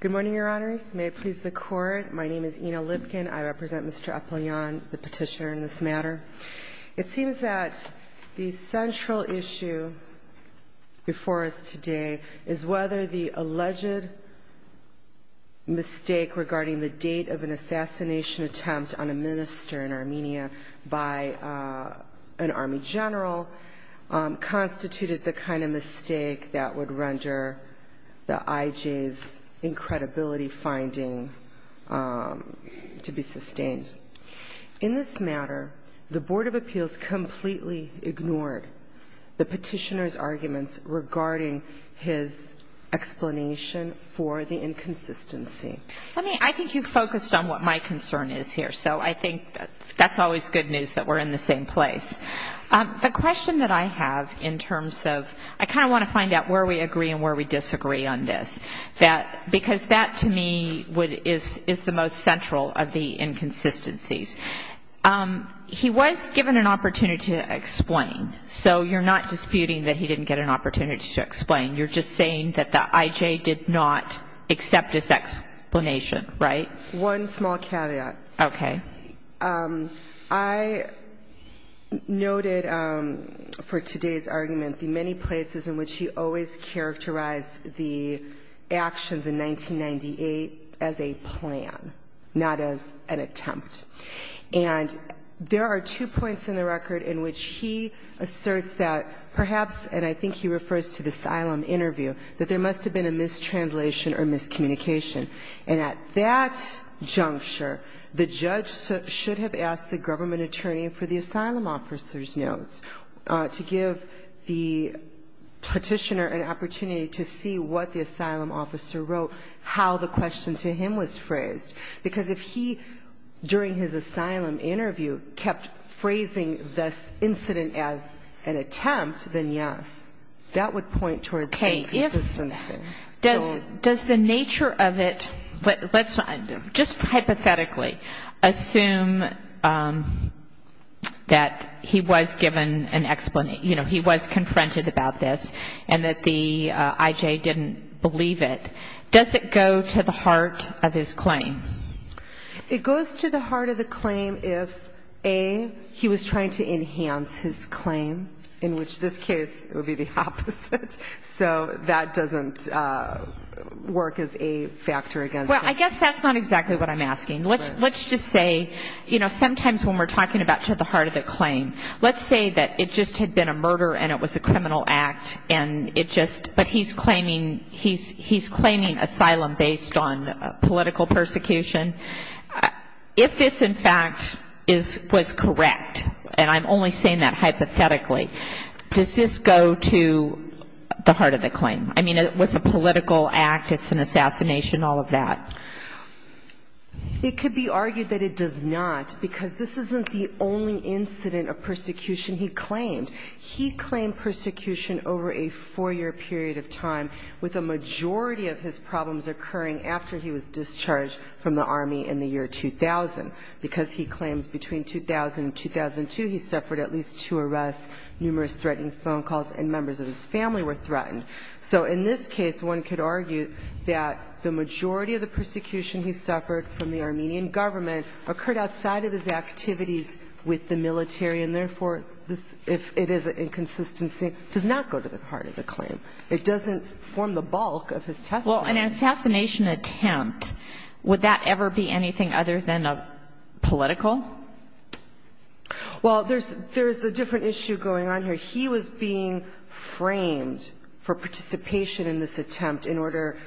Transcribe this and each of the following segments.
Good morning, Your Honors. May it please the Court, my name is Ina Lipkin. I represent Mr. Apelyan, the petitioner in this matter. It seems that the central issue before us today is whether the alleged mistake regarding the date of an assassination attempt on a minister in Armenia by an army general constituted the kind of mistake that would render the IJ's incredibility finding to be sustained. In this matter, the Board of Appeals completely ignored the petitioner's arguments regarding his explanation for the inconsistency. I mean, I think you focused on what my concern is here, so I think that's always good news that we're in the same place. The question that I have in terms of I kind of want to find out where we agree and where we disagree on this, because that to me is the most central of the inconsistencies. He was given an opportunity to explain, so you're not disputing that he didn't get an opportunity to explain. You're just saying that the IJ did not accept his explanation, right? One small caveat. Okay. I noted for today's argument the many places in which he always characterized the actions in 1998 as a plan, not as an attempt. And there are two points in the record in which he asserts that perhaps, and I think he refers to the asylum interview, that there must have been a mistranslation or miscommunication. And at that juncture, the judge should have asked the government attorney for the asylum officer's notes to give the petitioner an opportunity to see what the asylum officer wrote, how the question to him was phrased. Because if he, during his asylum interview, kept phrasing this incident as an attempt, then yes, that would point towards inconsistency. Okay. Does the nature of it, let's just hypothetically assume that he was given an explanation, you know, he was confronted about this and that the IJ didn't believe it. Does it go to the heart of his claim? It goes to the heart of the claim if, A, he was trying to enhance his claim, in which this case it would be the opposite. So that doesn't work as a factor against him. Well, I guess that's not exactly what I'm asking. Let's just say, you know, sometimes when we're talking about to the heart of the claim, let's say that it just had been a murder and it was a criminal act and it just, but he's claiming, he's claiming asylum based on political persecution. If this, in fact, was correct, and I'm only saying that hypothetically, does this go to the heart of the claim? I mean, it was a political act, it's an assassination, all of that. It could be argued that it does not, because this isn't the only incident of persecution he claimed. He claimed persecution over a four-year period of time, with a majority of his problems occurring after he was discharged from the Army in the year 2000, because he claims between 2000 and 2002 he suffered at least two arrests, numerous threatening phone calls, and members of his family were threatened. So in this case, one could argue that the majority of the persecution he suffered from the Armenian government occurred outside of his activities with the military, and therefore this, if it is an inconsistency, does not go to the heart of the claim. It doesn't form the bulk of his testimony. Well, an assassination attempt, would that ever be anything other than a political? Well, there's a different issue going on here. He was being framed for participation in this attempt in order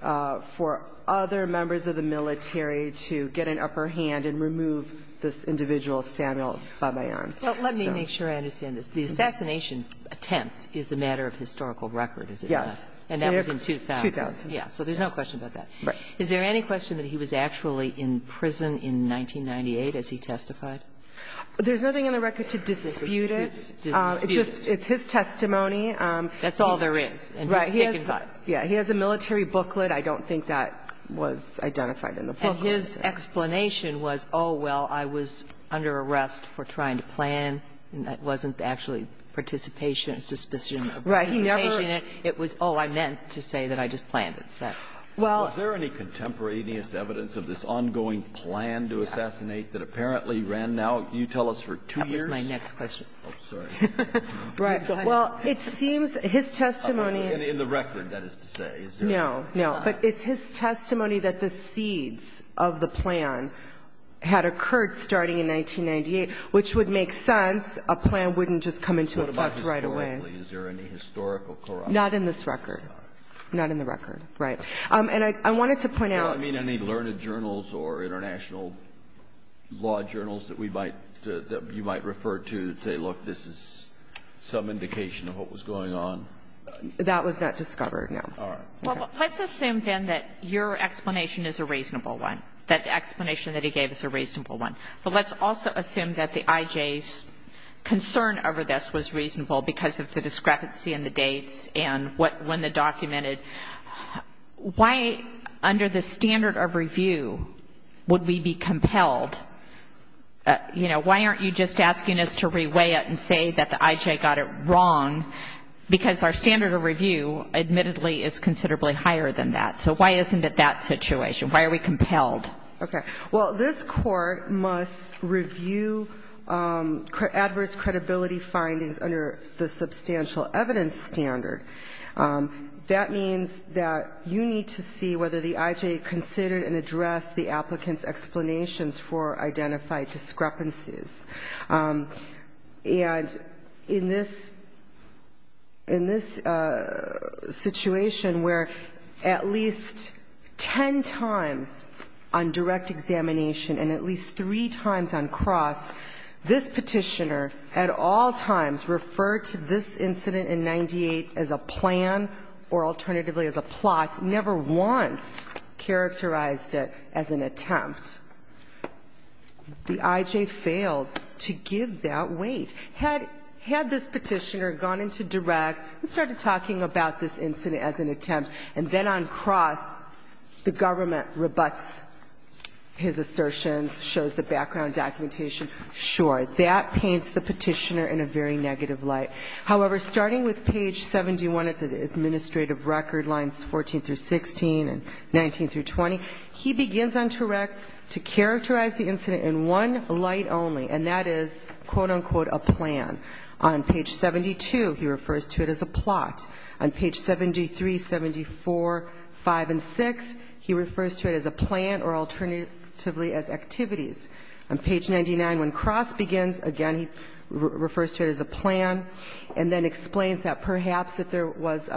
for other members of the military to get an upper hand and remove this individual Samuel Babayan. Well, let me make sure I understand this. The assassination attempt is a matter of historical record, is it not? Yes. And that was in 2000. 2000, yes. So there's no question about that. Right. Is there any question that he was actually in prison in 1998 as he testified? There's nothing in the record to dispute it. It's his testimony. That's all there is. Right. He has a military booklet. I don't think that was identified in the booklet. And his explanation was, oh, well, I was under arrest for trying to plan, and that wasn't actually participation. Participation. Right. He never ---- It was, oh, I meant to say that I just planned it. Well ---- Was there any contemporaneous evidence of this ongoing plan to assassinate that apparently ran now, you tell us, for two years? That was my next question. Oh, sorry. Right. Well, it seems his testimony ---- In the record, that is to say. No, no. But it's his testimony that the seeds of the plan had occurred starting in 1998, which would make sense. A plan wouldn't just come into effect right away. Is there any historical corruption? Not in this record. Not in the record. Right. And I wanted to point out ---- You don't mean any learned journals or international law journals that we might ---- that you might refer to to say, look, this is some indication of what was going on? That was not discovered, no. All right. Let's assume, then, that your explanation is a reasonable one, that the explanation that he gave is a reasonable one. But let's also assume that the I.J.'s concern over this was reasonable because of the discrepancy in the dates and when the document ---- why, under the standard of review, would we be compelled, you know, why aren't you just asking us to reweigh it and say that the I.J. got it wrong? Because our standard of review, admittedly, is considerably higher than that. So why isn't it that situation? Why are we compelled? Okay. Well, this Court must review adverse credibility findings under the substantial evidence standard. That means that you need to see whether the I.J. considered and addressed the applicant's explanations for identified discrepancies. And in this ---- in this situation where at least ten times on direct examination and at least three times on cross, this Petitioner at all times referred to this incident in 98 as a plan or alternatively as a plot, never once characterized it as an attempt. The I.J. failed to give that weight. Had this Petitioner gone into direct and started talking about this incident as an attempt, and then on cross the government rebuts his assertions, shows the background documentation, sure, that paints the Petitioner in a very negative light. However, starting with page 71 of the administrative record, lines 14 through 16 and 19 through 20, he begins on direct to characterize the incident in one light only, and that is, quote, unquote, a plan. On page 72, he refers to it as a plot. On page 73, 74, 5, and 6, he refers to it as a plan or alternatively as activities. On page 99, when cross begins, again, he refers to it as a plan and then explains that perhaps if there was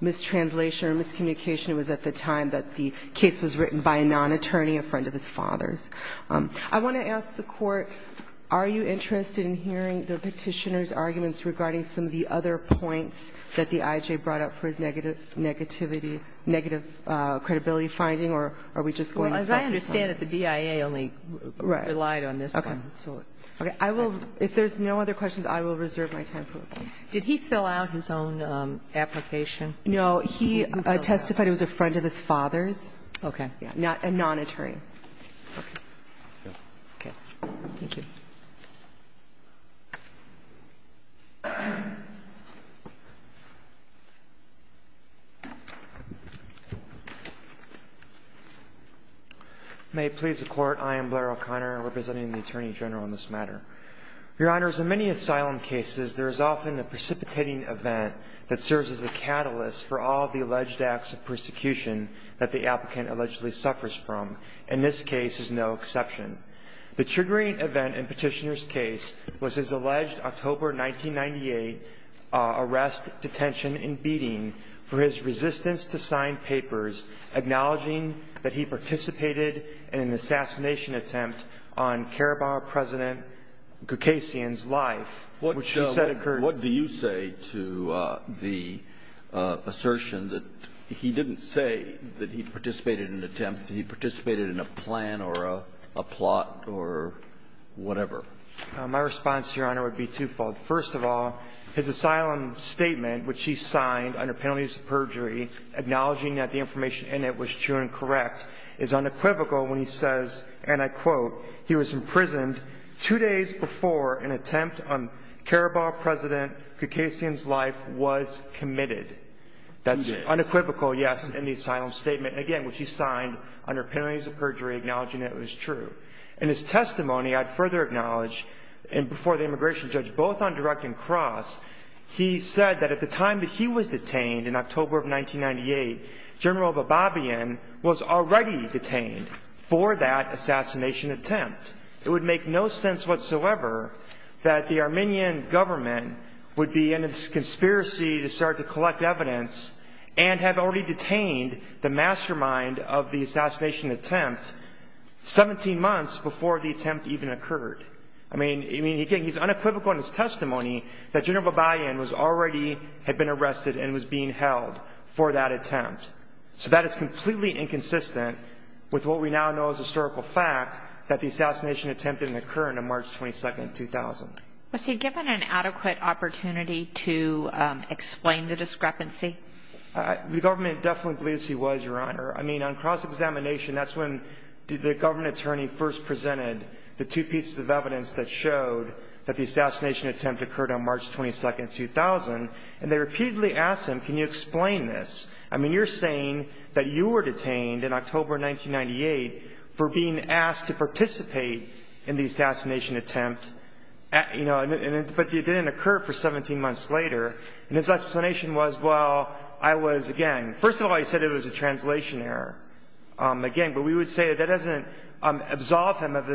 mistranslation or miscommunication, it was at the time that the case was written by a non-attorney, a friend of his father's. I want to ask the Court, are you interested in hearing the Petitioner's arguments regarding some of the other points that the I.J. brought up for his negative negativity, negative credibility finding, or are we just going to talk about this? Well, as I understand it, the DIA only relied on this one. Right. Okay. I will, if there's no other questions, I will reserve my time for them. Did he fill out his own application? No. He testified he was a friend of his father's. Okay. A non-attorney. Okay. Thank you. May it please the Court. I am Blair O'Connor, representing the Attorney General in this matter. Your Honors, in many asylum cases, there is often a precipitating event that serves as a catalyst for all of the alleged acts of persecution that the applicant allegedly suffers from, and this case is no exception. The triggering event in Petitioner's case was his alleged October 1998 arrest, detention, and beating for his resistance to sign papers acknowledging that he was a part of the Gukasian's life, which he said occurred. What do you say to the assertion that he didn't say that he participated in an attempt, he participated in a plan or a plot or whatever? My response to Your Honor would be twofold. First of all, his asylum statement, which he signed under penalties of perjury acknowledging that the information in it was true and correct, is unequivocal when he says, and I quote, he was imprisoned two days before an attempt on Carabao President Gukasian's life was committed. That's unequivocal, yes, in the asylum statement, again, which he signed under penalties of perjury acknowledging that it was true. In his testimony, I'd further acknowledge, and before the immigration judge, both on direct and cross, he said that at the time that he was detained in October of 1998, General Bababian was already detained for that assassination attempt. It would make no sense whatsoever that the Armenian government would be in this conspiracy to start to collect evidence and have already detained the mastermind of the assassination attempt 17 months before the attempt even occurred. I mean, he's unequivocal in his testimony that General Bababian was already, had been arrested and was being held for that attempt. So that is completely inconsistent with what we now know as historical fact, that the assassination attempt didn't occur until March 22, 2000. Was he given an adequate opportunity to explain the discrepancy? The government definitely believes he was, Your Honor. I mean, on cross-examination, that's when the government attorney first presented the two pieces of evidence that showed that the assassination attempt occurred on March 22, 2000, and they repeatedly asked him, can you explain this? I mean, you're saying that you were detained in October 1998 for being asked to participate in the assassination attempt, you know, but it didn't occur for 17 months later. And his explanation was, well, I was, again, first of all, he said it was a translation error, again, but we would say that doesn't absolve him of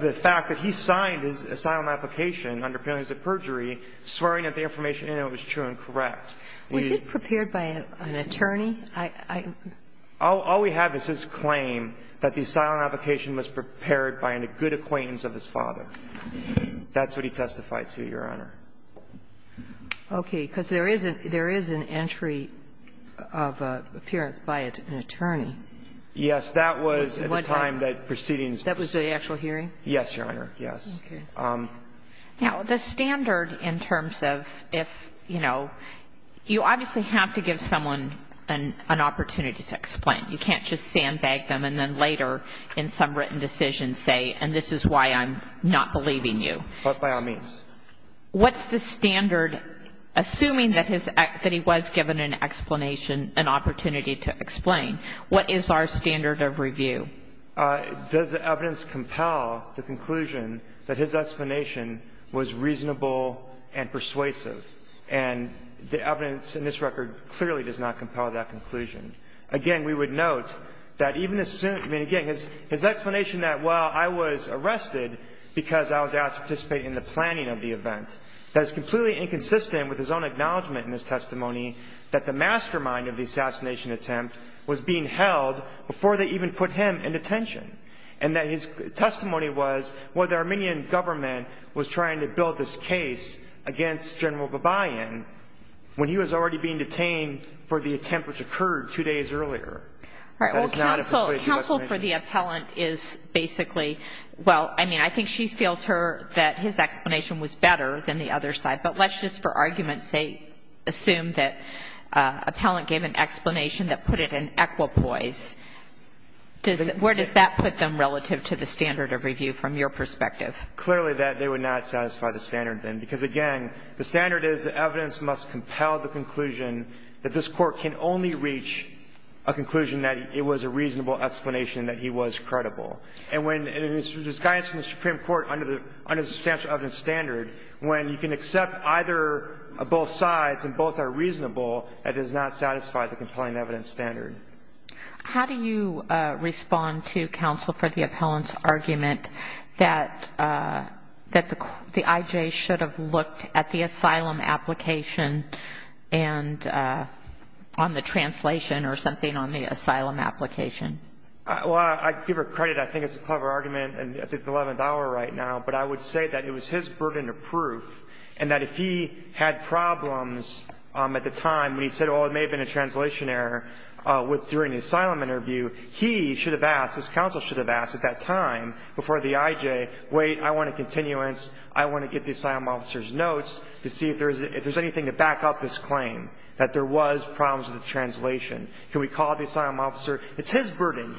the fact that he signed his asylum application under penalties of perjury swearing that the information in it was true and correct. Was it prepared by an attorney? All we have is his claim that the asylum application was prepared by a good acquaintance of his father. That's what he testified to, Your Honor. Okay. Because there is an entry of appearance by an attorney. Yes. Because that was at the time that proceedings were proceeding. That was the actual hearing? Yes, Your Honor. Yes. Okay. Now, the standard in terms of if, you know, you obviously have to give someone an opportunity to explain. You can't just sandbag them and then later in some written decision say, and this is why I'm not believing you. But by all means. What's the standard, assuming that he was given an explanation, an opportunity to explain? What is our standard of review? Does the evidence compel the conclusion that his explanation was reasonable and persuasive? And the evidence in this record clearly does not compel that conclusion. Again, we would note that even assuming, again, his explanation that, well, I was arrested because I was asked to participate in the planning of the event, that is completely inconsistent with his own acknowledgment in his testimony that the mastermind of the assassination attempt was being held before they even put him in detention. And that his testimony was, well, the Armenian government was trying to build this case against General Babayan when he was already being detained for the attempt which occurred two days earlier. All right. Well, counsel for the appellant is basically, well, I mean, I think she feels that his explanation was better than the other side. But let's just, for argument's sake, assume that appellant gave an explanation that put it in equipoise. Where does that put them relative to the standard of review from your perspective? Clearly that they would not satisfy the standard, then, because, again, the standard is that evidence must compel the conclusion that this Court can only reach a conclusion that it was a reasonable explanation that he was credible. And when there's guidance from the Supreme Court under the substantial evidence standard, when you can accept either or both sides and both are reasonable, that does not satisfy the compelling evidence standard. How do you respond to counsel for the appellant's argument that the I.J. should have looked at the asylum application and on the translation or something on the asylum application? Well, I give her credit. I think it's a clever argument at the 11th hour right now. But I would say that it was his burden of proof and that if he had problems at the time when he said, well, it may have been a translation error during the asylum interview, he should have asked, his counsel should have asked at that time before the I.J., wait, I want a continuance. I want to get the asylum officer's notes to see if there's anything to back up this claim, that there was problems with the translation. Can we call the asylum officer? It's his burden.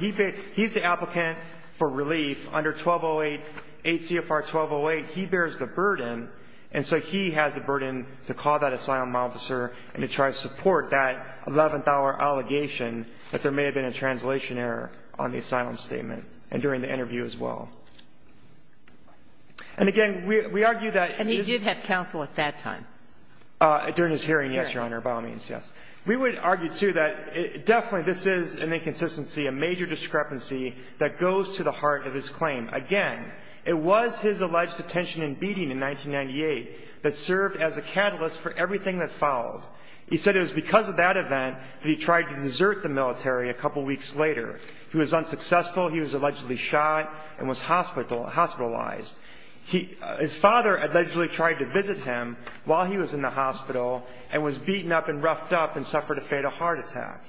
He's the applicant for relief under 1208, 8 CFR 1208. He bears the burden. And so he has the burden to call that asylum officer and to try to support that 11th hour allegation that there may have been a translation error on the asylum statement and during the interview as well. And, again, we argue that this is the case. And he did have counsel at that time? During his hearing, yes, Your Honor, by all means, yes. We would argue, too, that definitely this is an inconsistency, a major discrepancy that goes to the heart of his claim. Again, it was his alleged detention and beating in 1998 that served as a catalyst for everything that followed. He said it was because of that event that he tried to desert the military a couple weeks later. He was unsuccessful. He was allegedly shot and was hospitalized. His father allegedly tried to visit him while he was in the hospital and was beaten up and roughed up and suffered a fatal heart attack.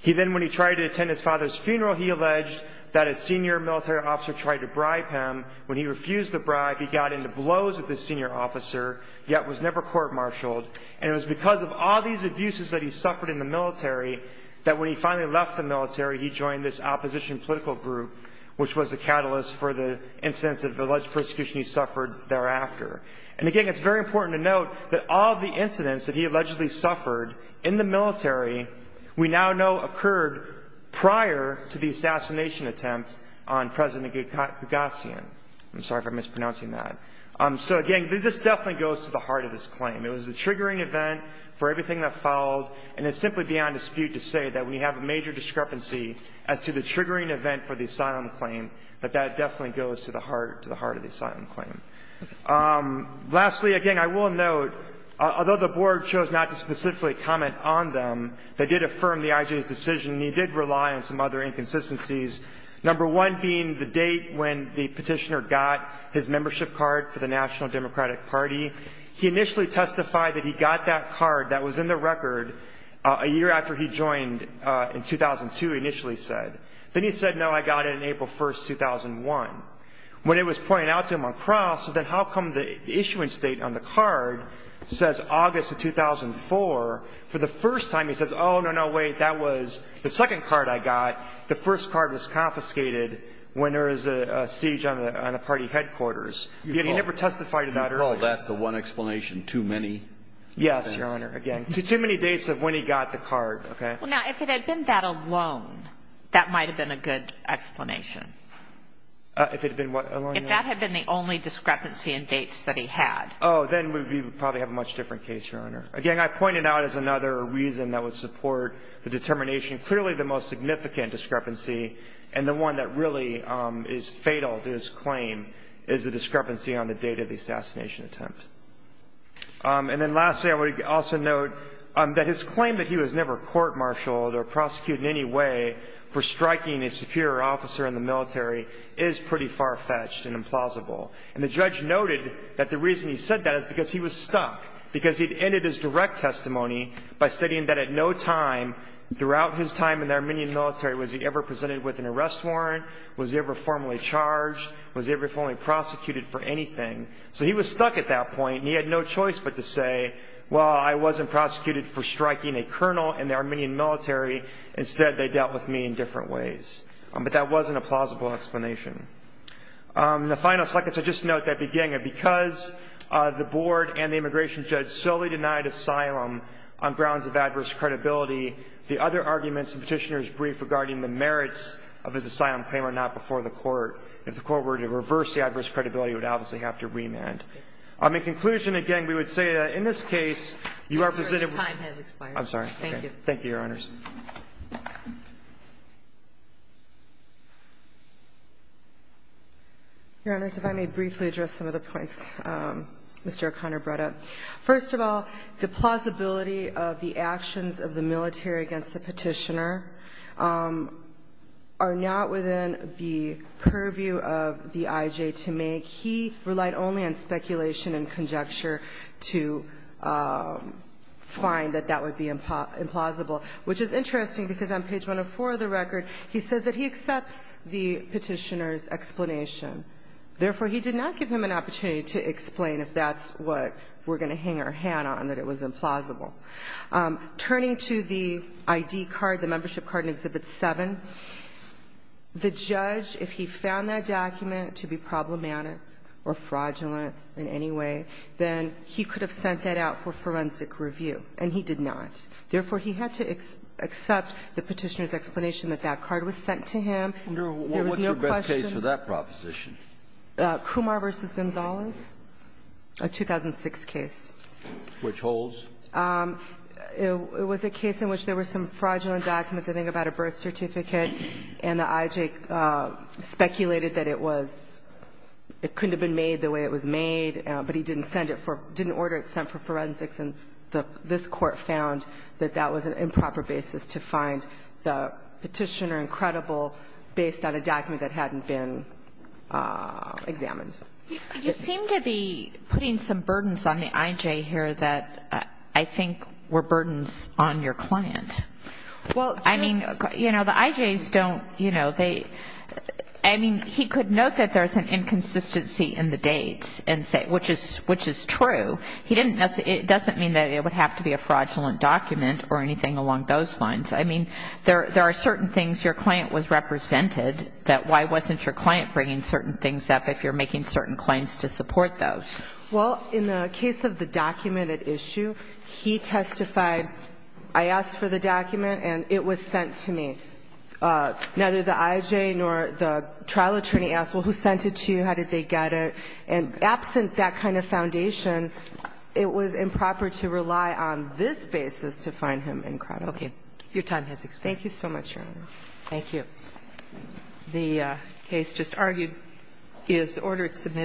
He then, when he tried to attend his father's funeral, he alleged that a senior military officer tried to bribe him. When he refused the bribe, he got into blows with the senior officer, yet was never court-martialed. And it was because of all these abuses that he suffered in the military that when he finally left the military, he joined this opposition political group, which was a catalyst for the incidents of alleged persecution he suffered thereafter. And, again, it's very important to note that all of the incidents that he allegedly suffered in the military we now know occurred prior to the assassination attempt on President Gagassian. I'm sorry if I'm mispronouncing that. So, again, this definitely goes to the heart of his claim. It was the triggering event for everything that followed, and it's simply beyond dispute to say that we have a major discrepancy as to the triggering event for the asylum claim, that that definitely goes to the heart of the asylum claim. Lastly, again, I will note, although the board chose not to specifically comment on them, they did affirm the IJ's decision, and he did rely on some other inconsistencies, number one being the date when the petitioner got his membership card for the National Democratic Party. He initially testified that he got that card that was in the record a year after he joined in 2002, initially said. Then he said, no, I got it on April 1, 2001. When it was pointed out to him on cross, then how come the issuance date on the card says August of 2004? For the first time he says, oh, no, no, wait, that was the second card I got. The first card was confiscated when there was a siege on the party headquarters. He never testified to that earlier. You call that the one explanation too many? Yes, Your Honor, again, too many dates of when he got the card, okay? Now, if it had been that alone, that might have been a good explanation. If it had been what alone? If that had been the only discrepancy in dates that he had. Oh, then we would probably have a much different case, Your Honor. Again, I point it out as another reason that would support the determination. Clearly the most significant discrepancy and the one that really is fatal to his claim is the discrepancy on the date of the assassination attempt. And then lastly, I would also note that his claim that he was never court-martialed or prosecuted in any way for striking a superior officer in the military is pretty far-fetched and implausible. And the judge noted that the reason he said that is because he was stuck, because he had ended his direct testimony by stating that at no time throughout his time in the Armenian military was he ever presented with an arrest warrant, was he ever formally charged, was he ever formally prosecuted for anything. So he was stuck at that point, and he had no choice but to say, well, I wasn't prosecuted for striking a colonel in the Armenian military. Instead, they dealt with me in different ways. But that wasn't a plausible explanation. In the final seconds, I just note that beginning, because the board and the immigration judge solely denied asylum on grounds of adverse credibility, the other arguments in Petitioner's brief regarding the merits of his asylum claim are not before the court. If the court were to reverse the adverse credibility, it would obviously have to remand. In conclusion, again, we would say that in this case, you are presented with ---- I'm sorry. Thank you. Thank you, Your Honors. Your Honors, if I may briefly address some of the points Mr. O'Connor brought up. First of all, the plausibility of the actions of the military against the Petitioner are not within the purview of the IJ to make. He relied only on speculation and conjecture to find that that would be implausible, which is interesting because on page 104 of the record, he says that he accepts the Petitioner's explanation. Therefore, he did not give him an opportunity to explain if that's what we're going to hang our hand on, that it was implausible. Turning to the I.D. card, the membership card in Exhibit 7, the judge, if he found that document to be problematic or fraudulent in any way, then he could have sent that out for forensic review, and he did not. Therefore, he had to accept the Petitioner's explanation that that card was sent to him. There was no question. What's your best case for that proposition? Kumar v. Gonzalez, a 2006 case. Which holds? It was a case in which there were some fraudulent documents, I think, about a birth certificate, and the IJ speculated that it was — it couldn't have been made the way it was made, but he didn't send it for — didn't order it sent for forensics, and this Court found that that was an improper basis to find the Petitioner incredible based on a document that hadn't been examined. You seem to be putting some burdens on the IJ here that I think were burdens on your client. Well, I mean, you know, the IJs don't, you know, they — I mean, he could note that there's an inconsistency in the dates and say — which is true. He didn't — it doesn't mean that it would have to be a fraudulent document or anything along those lines. I mean, there are certain things your client was represented, that why wasn't your client bringing certain things up if you're making certain claims to support those? Well, in the case of the documented issue, he testified, I asked for the document and it was sent to me. Neither the IJ nor the trial attorney asked, well, who sent it to you? How did they get it? And absent that kind of foundation, it was improper to rely on this basis to find him incredible. Okay. Your time has expired. Thank you so much, Your Honors. Thank you. The case just argued is ordered submitted.